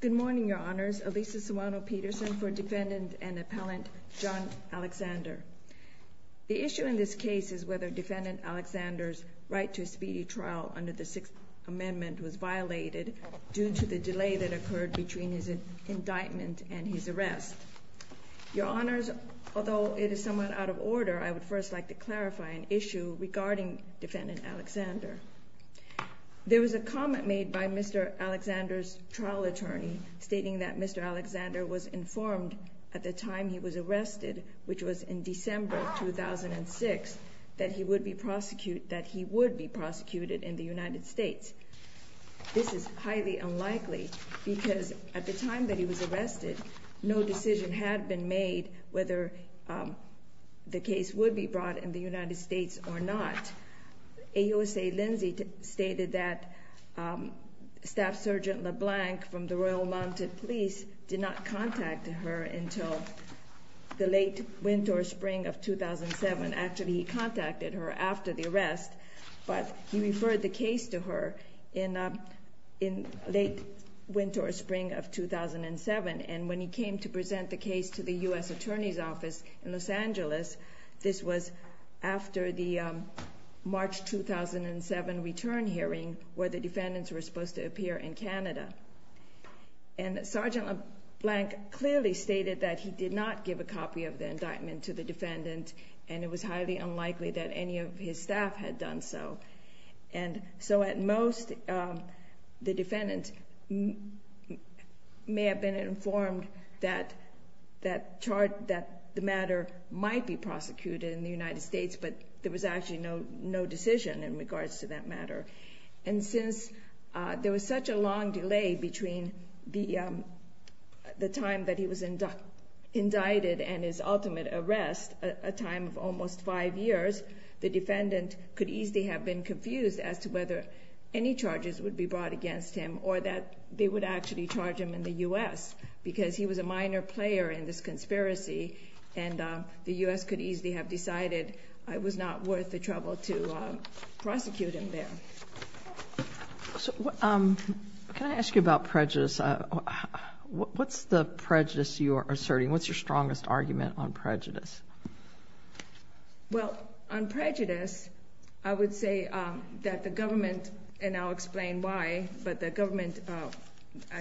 Good morning, Your Honors. Elisa Suano-Peterson for Defendant and Appellant John Alexander. The issue in this case is whether Defendant Alexander's right to a speedy trial under the Sixth Amendment was violated due to the delay that occurred between his indictment and his arrest. Your Honors, although it is somewhat out of order, I would first like to clarify an issue regarding Defendant Alexander. There was a comment made by Mr. Alexander's trial attorney stating that Mr. Alexander was informed at the time he was arrested, which was in December 2006, that he would be prosecuted in the United States. This is highly unlikely because at the time that he was arrested, no decision had been made whether the case would be brought in the United States or not. In fact, AUSA Lindsay stated that Staff Sergeant LeBlanc from the Royal Mounted Police did not contact her until the late winter or spring of 2007. Actually, he contacted her after the arrest, but he referred the case to her in late winter or spring of 2007. When he came to present the case to the U.S. Attorney's Office in Los Angeles, this was after the March 2007 return hearing where the defendants were supposed to appear in Canada. Sergeant LeBlanc clearly stated that he did not give a copy of the indictment to the defendant, and it was highly unlikely that any of his staff had done so. At most, the defendant may have been informed that the matter might be prosecuted in the United States, but there was actually no decision in regards to that matter. Since there was such a long delay between the time that he was indicted and his ultimate arrest, a time of almost five years, the defendant could easily have been confused as to whether any charges would be brought against him or that they would actually charge him in the U.S. because he was a minor player in this conspiracy, and the U.S. could easily have decided it was not worth the trouble to prosecute him there. Can I ask you about prejudice? What's the prejudice you are asserting? What's your strongest argument on prejudice? Well, on prejudice, I would say that the government, and I'll explain why, but the government,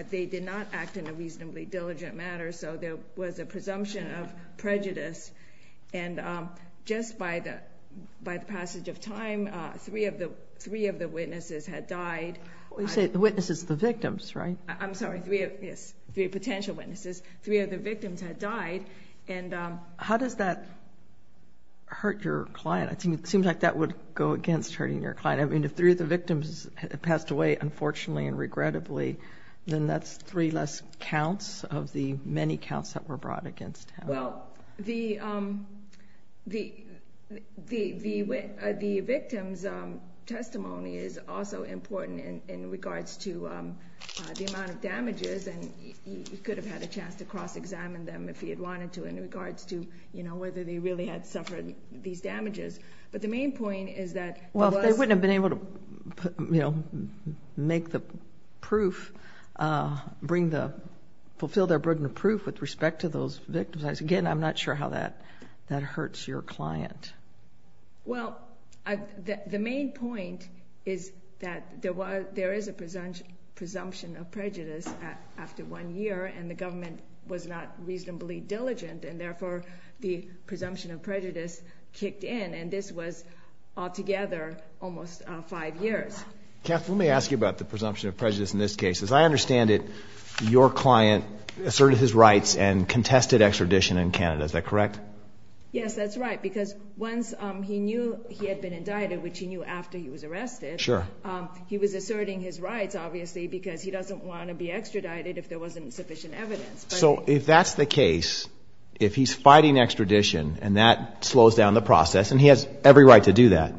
they did not act in a reasonably diligent manner, so there was a presumption of prejudice, and just by the passage of time, three of the witnesses had died. You say the witnesses, the victims, right? I'm sorry, three potential witnesses. Three of the victims had died. How does that hurt your client? It seems like that would go against hurting your client. If three of the victims had passed away, unfortunately and regrettably, then that's three less counts of the many counts that were brought against him. Well, the victim's testimony is also important in regards to the amount of damages, and he could have had a chance to cross-examine them if he had wanted to in regards to whether they really had suffered these damages, but the main point is that— Well, they wouldn't have been able to make the proof, bring the—fulfill their burden of proof with respect to those victims. Again, I'm not sure how that hurts your client. Well, the main point is that there is a presumption of prejudice after one year, and the government was not reasonably diligent, and therefore the presumption of prejudice kicked in, and this was altogether almost five years. Kath, let me ask you about the presumption of prejudice in this case. As I understand it, your client asserted his rights and contested extradition in Canada. Is that correct? Yes, that's right, because once he knew he had been indicted, which he knew after he was arrested— Sure. He was asserting his rights, obviously, because he doesn't want to be extradited if there wasn't sufficient evidence. So if that's the case, if he's fighting extradition and that slows down the process, and he has every right to do that,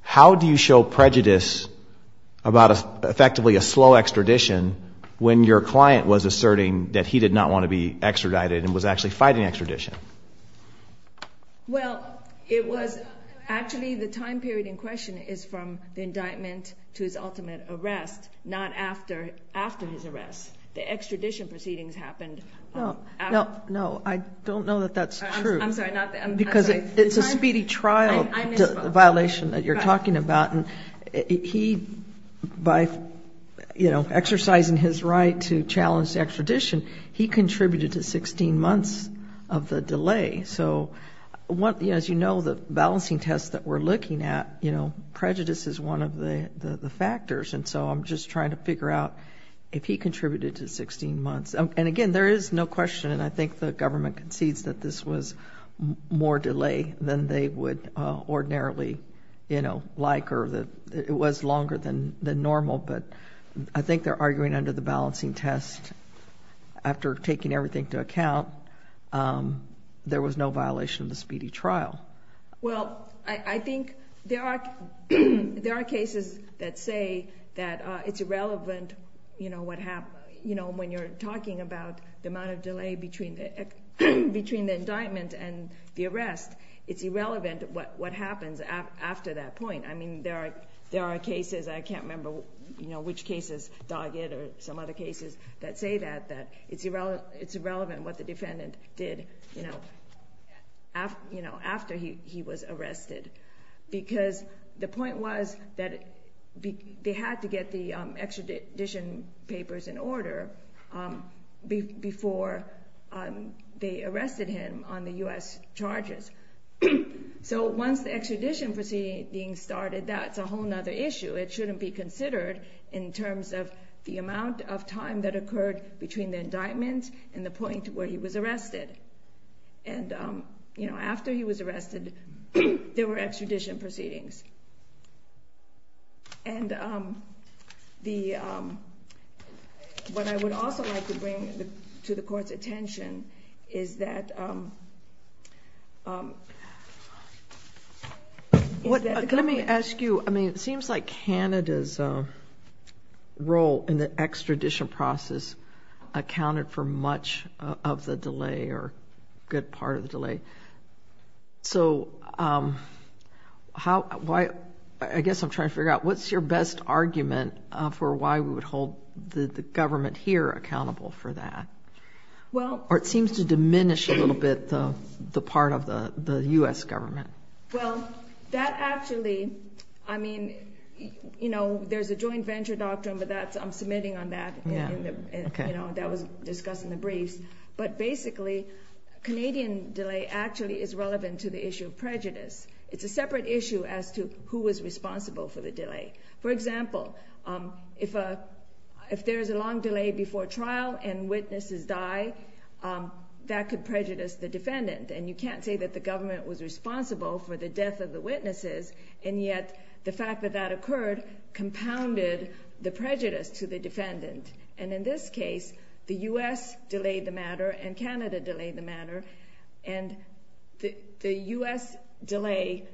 how do you show prejudice about effectively a slow extradition when your client was asserting that he did not want to be extradited and was actually fighting extradition? Well, it was—actually, the time period in question is from the indictment to his ultimate arrest, not after his arrest. The extradition proceedings happened after— No, I don't know that that's true. I'm sorry. Because it's a speedy trial violation that you're talking about, and he, by exercising his right to challenge extradition, he contributed to 16 months of the delay. So as you know, the balancing test that we're looking at, prejudice is one of the factors, and so I'm just trying to figure out if he contributed to 16 months. And again, there is no question, and I think the government concedes that this was more delay than they would ordinarily like or that it was longer than normal, but I think they're arguing under the balancing test, after taking everything into account, there was no violation of the speedy trial. Well, I think there are cases that say that it's irrelevant, you know, when you're talking about the amount of delay between the indictment and the arrest, it's irrelevant what happens after that point. I mean, there are cases—I can't remember which cases, Doggett or some other cases that say that, it's irrelevant what the defendant did, you know, after he was arrested. Because the point was that they had to get the extradition papers in order before they arrested him on the U.S. charges. So once the extradition proceedings started, that's a whole other issue. It shouldn't be considered in terms of the amount of time that occurred between the indictment and the point where he was arrested. And, you know, after he was arrested, there were extradition proceedings. And the—what I would also like to bring to the Court's attention is that— Let me ask you, I mean, it seems like Canada's role in the extradition process accounted for much of the delay or a good part of the delay. So how—I guess I'm trying to figure out, what's your best argument for why we would hold the government here accountable for that? Or it seems to diminish a little bit the part of the U.S. government. Well, that actually—I mean, you know, there's a joint venture doctrine, but that's—I'm submitting on that. Yeah, okay. You know, that was discussed in the briefs. But basically, Canadian delay actually is relevant to the issue of prejudice. It's a separate issue as to who was responsible for the delay. For example, if there's a long delay before trial and witnesses die, that could prejudice the defendant. And you can't say that the government was responsible for the death of the witnesses. And yet, the fact that that occurred compounded the prejudice to the defendant. And in this case, the U.S. delayed the matter and Canada delayed the matter. And the U.S. delay,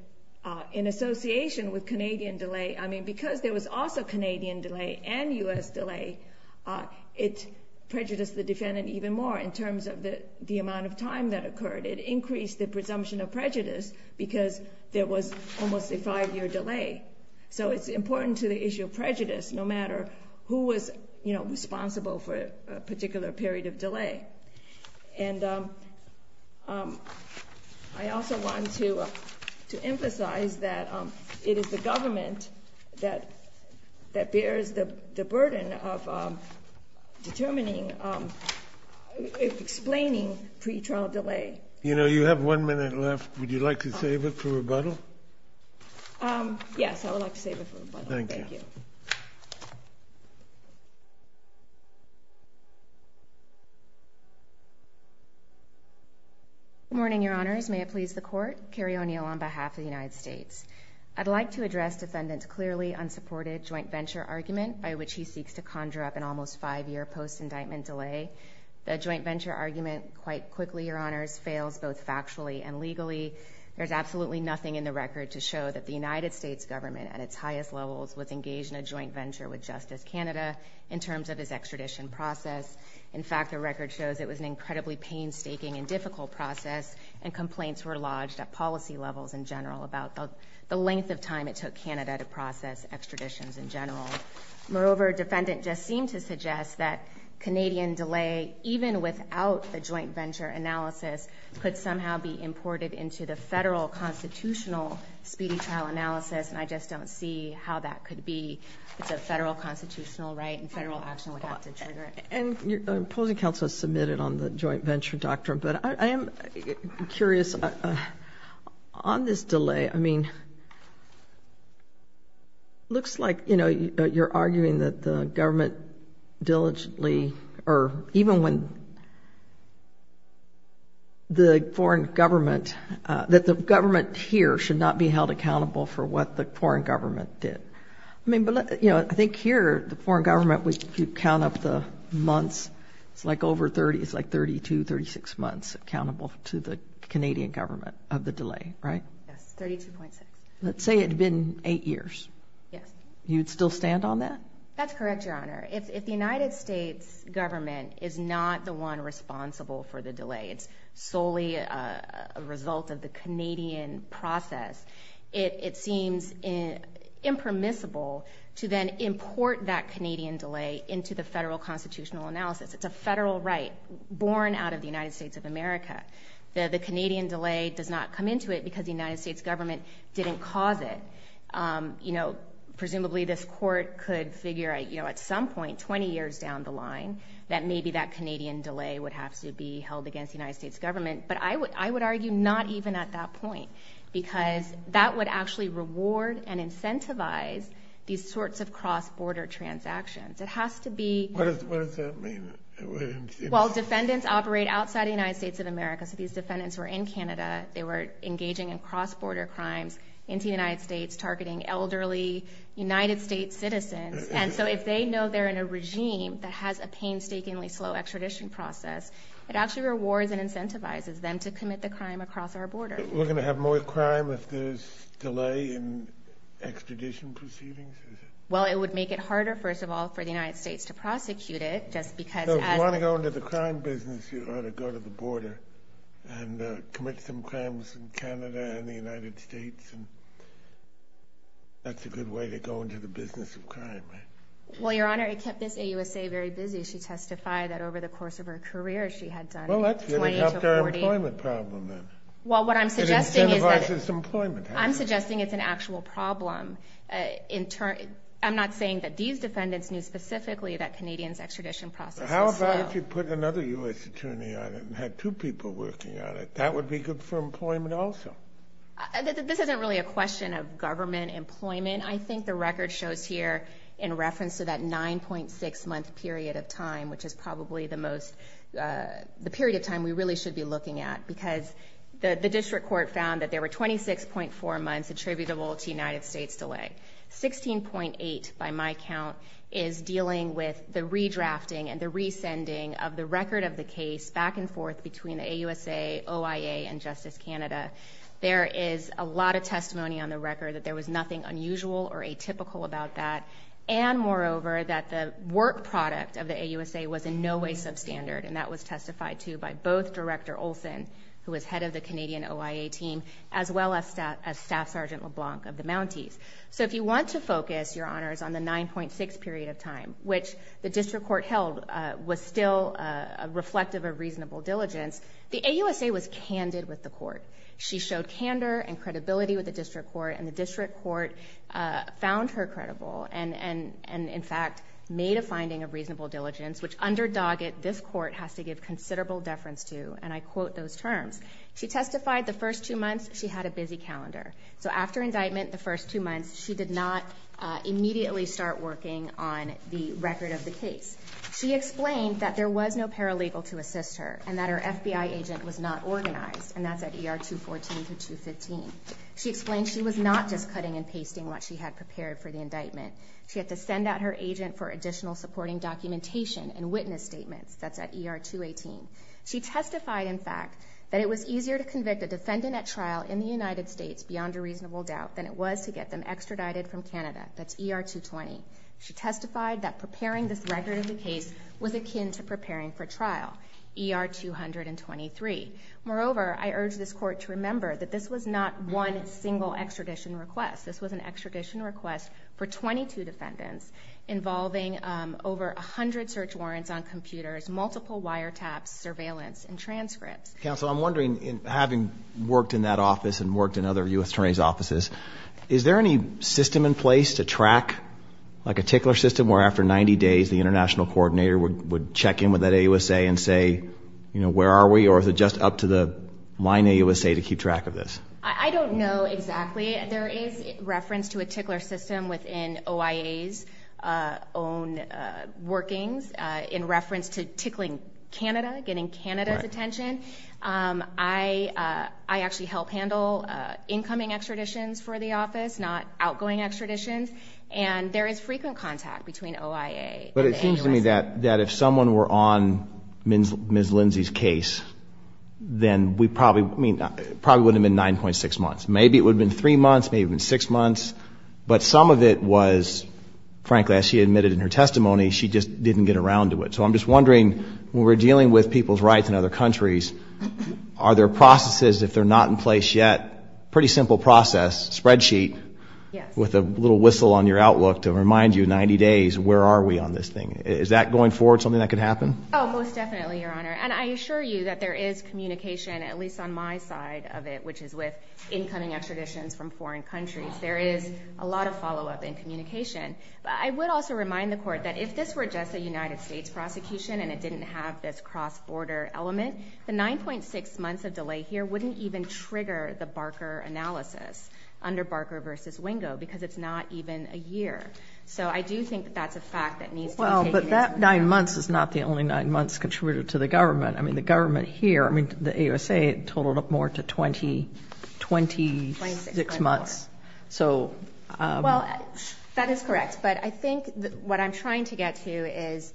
in association with Canadian delay—I mean, because there was also Canadian delay and U.S. delay, it prejudiced the defendant even more in terms of the amount of time that occurred. It increased the presumption of prejudice because there was almost a five-year delay. So it's important to the issue of prejudice, no matter who was responsible for a particular period of delay. And I also want to emphasize that it is the government that bears the burden of determining—explaining pre-trial delay. You know, you have one minute left. Would you like to save it for rebuttal? Yes, I would like to save it for rebuttal. Thank you. Good morning, Your Honors. May it please the Court. Carrie O'Neill on behalf of the United States. I'd like to address defendant's clearly unsupported joint venture argument, by which he seeks to conjure up an almost five-year post-indictment delay. The joint venture argument, quite quickly, Your Honors, fails both factually and legally. There's absolutely nothing in the record to show that the United States government, at its highest levels, was engaged in a joint venture with Justice Canada in terms of its extradition process. In fact, the record shows it was an incredibly painstaking and difficult process, and complaints were lodged at policy levels in general about the length of time it took Canada to process extraditions in general. Moreover, defendant just seemed to suggest that Canadian delay, even without the joint venture analysis, could somehow be imported into the federal constitutional speedy trial analysis, and I just don't see how that could be. It's a federal constitutional right, and federal action would have to trigger it. And opposing counsel has submitted on the joint venture doctrine, but I am curious, on this delay, I mean, it looks like, you know, you're arguing that the government diligently, or even when the foreign government, that the government here should not be held accountable for what the foreign government did. I mean, but, you know, I think here the foreign government, if you count up the months, it's like over 30, it's like 32, 36 months accountable to the Canadian government of the delay, right? Yes, 32.6. Let's say it had been eight years. Yes. You'd still stand on that? That's correct, Your Honor. If the United States government is not the one responsible for the delay, it's solely a result of the Canadian process, it seems impermissible to then import that Canadian delay into the federal constitutional analysis. It's a federal right born out of the United States of America. The Canadian delay does not come into it because the United States government didn't cause it. You know, presumably this court could figure, you know, at some point, 20 years down the line, that maybe that Canadian delay would have to be held against the United States government. But I would argue not even at that point because that would actually reward and incentivize these sorts of cross-border transactions. It has to be. What does that mean? Well, defendants operate outside the United States of America, so these defendants were in Canada. They were engaging in cross-border crimes into the United States, targeting elderly United States citizens. And so if they know they're in a regime that has a painstakingly slow extradition process, it actually rewards and incentivizes them to commit the crime across our border. We're going to have more crime if there's delay in extradition proceedings, is it? Well, it would make it harder, first of all, for the United States to prosecute it just because as— So if you want to go into the crime business, you ought to go to the border and commit some crimes in Canada and the United States. And that's a good way to go into the business of crime, right? Well, Your Honor, it kept this AUSA very busy. She testified that over the course of her career, she had done 20 to 40— Well, that's going to help their employment problem then. Well, what I'm suggesting is that— It incentivizes employment, hasn't it? I'm suggesting it's an actual problem. I'm not saying that these defendants knew specifically that Canadians' extradition process was slow. How about if you put another U.S. attorney on it and had two people working on it? That would be good for employment also. This isn't really a question of government employment. I think the record shows here in reference to that 9.6-month period of time, which is probably the most—the period of time we really should be looking at because the district court found that there were 26.4 months attributable to United States delay. 16.8, by my count, is dealing with the redrafting and the resending of the record of the case back and forth between the AUSA, OIA, and Justice Canada. There is a lot of testimony on the record that there was nothing unusual or atypical about that, and moreover, that the work product of the AUSA was in no way substandard, and that was testified to by both Director Olson, who was head of the Canadian OIA team, as well as Staff Sergeant LeBlanc of the Mounties. So if you want to focus your honors on the 9.6 period of time, which the district court held was still reflective of reasonable diligence, the AUSA was candid with the court. She showed candor and credibility with the district court, and the district court found her credible and, in fact, made a finding of reasonable diligence, which under Doggett, this court has to give considerable deference to, and I quote those terms. She testified the first two months she had a busy calendar. So after indictment the first two months, she did not immediately start working on the record of the case. She explained that there was no paralegal to assist her and that her FBI agent was not organized, and that's at ER 214 to 215. She explained she was not just cutting and pasting what she had prepared for the indictment. She had to send out her agent for additional supporting documentation and witness statements. That's at ER 218. She testified, in fact, that it was easier to convict a defendant at trial in the United States beyond a reasonable doubt than it was to get them extradited from Canada. That's ER 220. She testified that preparing this record of the case was akin to preparing for trial, ER 223. Moreover, I urge this court to remember that this was not one single extradition request. This was an extradition request for 22 defendants involving over 100 search warrants on computers, multiple wiretaps, surveillance, and transcripts. Counsel, I'm wondering, having worked in that office and worked in other U.S. attorneys' offices, is there any system in place to track, like a tickler system where after 90 days the international coordinator would check in with that AUSA and say, you know, where are we, or is it just up to the line AUSA to keep track of this? I don't know exactly. There is reference to a tickler system within OIA's own workings in reference to tickling Canada, getting Canada's attention. I actually help handle incoming extraditions for the office, not outgoing extraditions, and there is frequent contact between OIA and the AUSA. But it seems to me that if someone were on Ms. Lindsay's case, then we probably would have been 9.6 months. Maybe it would have been 3 months, maybe it would have been 6 months. But some of it was, frankly, as she admitted in her testimony, she just didn't get around to it. So I'm just wondering, when we're dealing with people's rights in other countries, are there processes if they're not in place yet, pretty simple process, spreadsheet, with a little whistle on your outlook to remind you 90 days, where are we on this thing? Is that going forward something that could happen? Oh, most definitely, Your Honor. And I assure you that there is communication, at least on my side of it, which is with incoming extraditions from foreign countries. There is a lot of follow-up and communication. But I would also remind the Court that if this were just a United States prosecution and it didn't have this cross-border element, the 9.6 months of delay here wouldn't even trigger the Barker analysis under Barker v. Wingo because it's not even a year. That 9 months is not the only 9 months contributed to the government. I mean, the government here, I mean, the ASA totaled up more to 26 months. Well, that is correct. But I think what I'm trying to get to is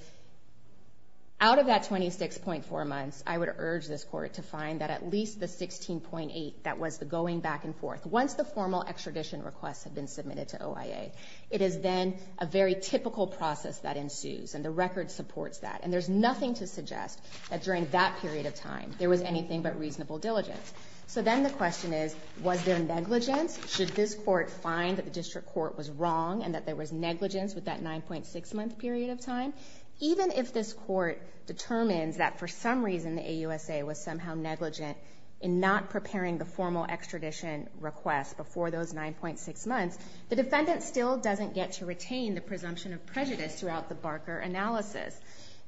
out of that 26.4 months, I would urge this Court to find that at least the 16.8 that was the going back and forth, once the formal extradition requests have been submitted to OIA, it is then a very typical process that ensues. And the record supports that. And there's nothing to suggest that during that period of time there was anything but reasonable diligence. So then the question is, was there negligence? Should this Court find that the district court was wrong and that there was negligence with that 9.6-month period of time? Even if this Court determines that for some reason the AUSA was somehow negligent in not preparing the formal extradition request before those 9.6 months, the defendant still doesn't get to retain the presumption of prejudice throughout the Barker analysis.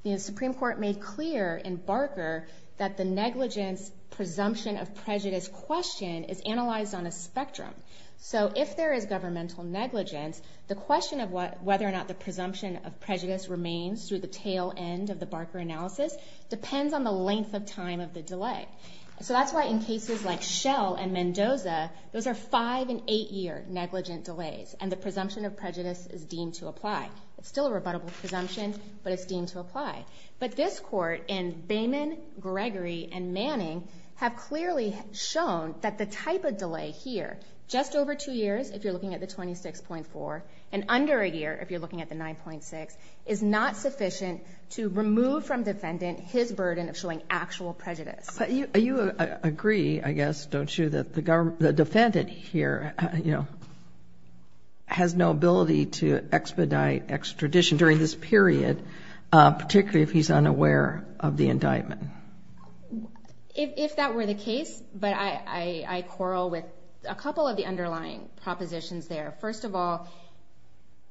The Supreme Court made clear in Barker that the negligence presumption of prejudice question is analyzed on a spectrum. So if there is governmental negligence, the question of whether or not the presumption of prejudice remains through the tail end of the Barker analysis depends on the length of time of the delay. So that's why in cases like Shell and Mendoza, those are 5- and 8-year negligent delays, and the presumption of prejudice is deemed to apply. It's still a rebuttable presumption, but it's deemed to apply. But this Court in Bayman, Gregory, and Manning have clearly shown that the type of delay here, just over 2 years if you're looking at the 26.4, and under a year if you're looking at the 9.6, is not sufficient to remove from defendant his burden of showing actual prejudice. But you agree, I guess, don't you, that the defendant here, you know, has no ability to expedite extradition during this period, particularly if he's unaware of the indictment? If that were the case, but I quarrel with a couple of the underlying propositions there. First of all,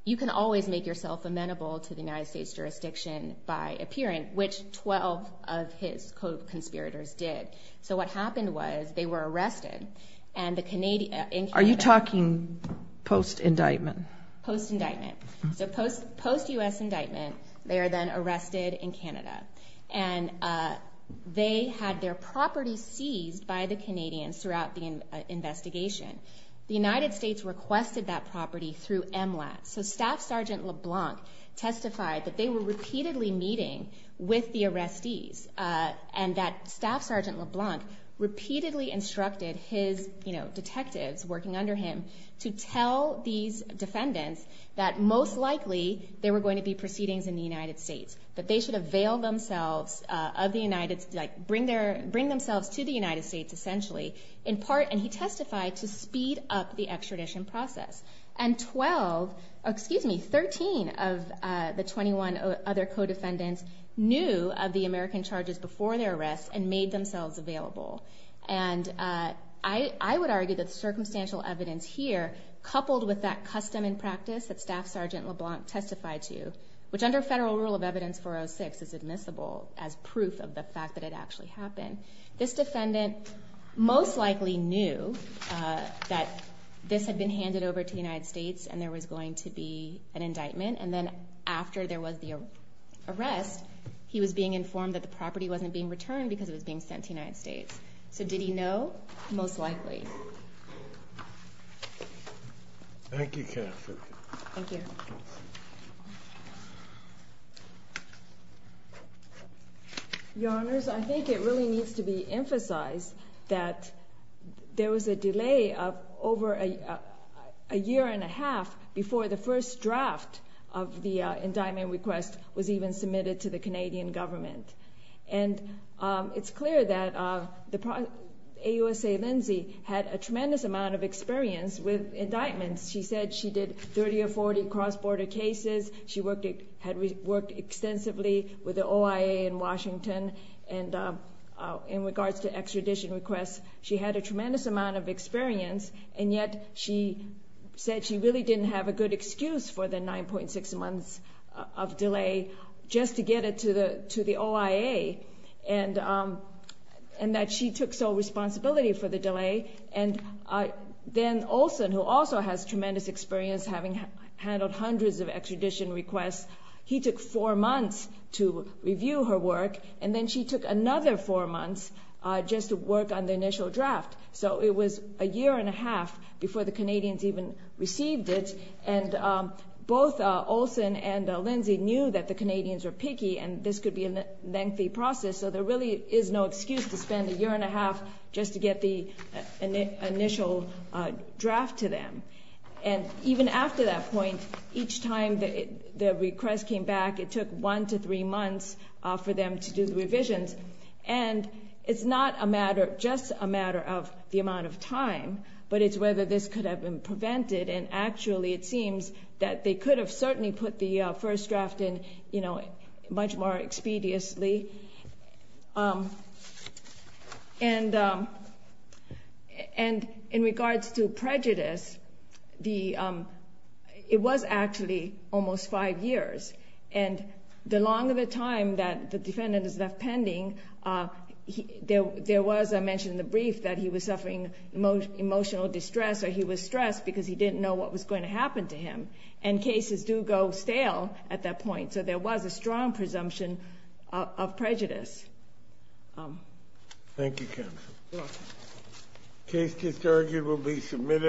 you can always make yourself amenable to the United States jurisdiction by appearing, which 12 of his co-conspirators did. So what happened was they were arrested in Canada. Are you talking post-indictment? Post-indictment. So post-U.S. indictment, they are then arrested in Canada. And they had their property seized by the Canadians throughout the investigation. The United States requested that property through MLAT. So Staff Sergeant LeBlanc testified that they were repeatedly meeting with the arrestees and that Staff Sergeant LeBlanc repeatedly instructed his detectives working under him to tell these defendants that most likely there were going to be proceedings in the United States, that they should avail themselves of the United States, like bring themselves to the United States essentially, in part, and he testified, to speed up the extradition process. And 12, excuse me, 13 of the 21 other co-defendants knew of the American charges before their arrest and made themselves available. And I would argue that the circumstantial evidence here, coupled with that custom and practice that Staff Sergeant LeBlanc testified to, which under federal rule of evidence 406 is admissible as proof of the fact that it actually happened, this defendant most likely knew that this had been handed over to the United States and there was going to be an indictment. And then after there was the arrest, he was being informed that the property wasn't being returned because it was being sent to the United States. So did he know? Most likely. Thank you, Catherine. Thank you. Your Honors, I think it really needs to be emphasized that there was a delay of over a year and a half before the first draft of the indictment request was even submitted to the Canadian government. And it's clear that AUSA Lindsay had a tremendous amount of experience with indictments. She said she did 30 or 40 cross-border cases. She had worked extensively with the OIA in Washington. And in regards to extradition requests, she had a tremendous amount of experience. And yet she said she really didn't have a good excuse for the 9.6 months of delay just to get it to the OIA And then Olson, who also has tremendous experience having handled hundreds of extradition requests, he took four months to review her work and then she took another four months just to work on the initial draft. So it was a year and a half before the Canadians even received it. And both Olson and Lindsay knew that the Canadians were picky and this could be a lengthy process. So there really is no excuse to spend a year and a half just to get the initial draft to them. And even after that point, each time the request came back, it took one to three months for them to do the revisions. And it's not just a matter of the amount of time, but it's whether this could have been prevented. And actually it seems that they could have certainly put the first draft in much more expediously. And in regards to prejudice, it was actually almost five years. And the longer the time that the defendant is left pending, there was, I mentioned in the brief, that he was suffering emotional distress or he was stressed because he didn't know what was going to happen to him. And cases do go stale at that point. So there was a strong presumption of prejudice. Thank you, Counsel. You're welcome.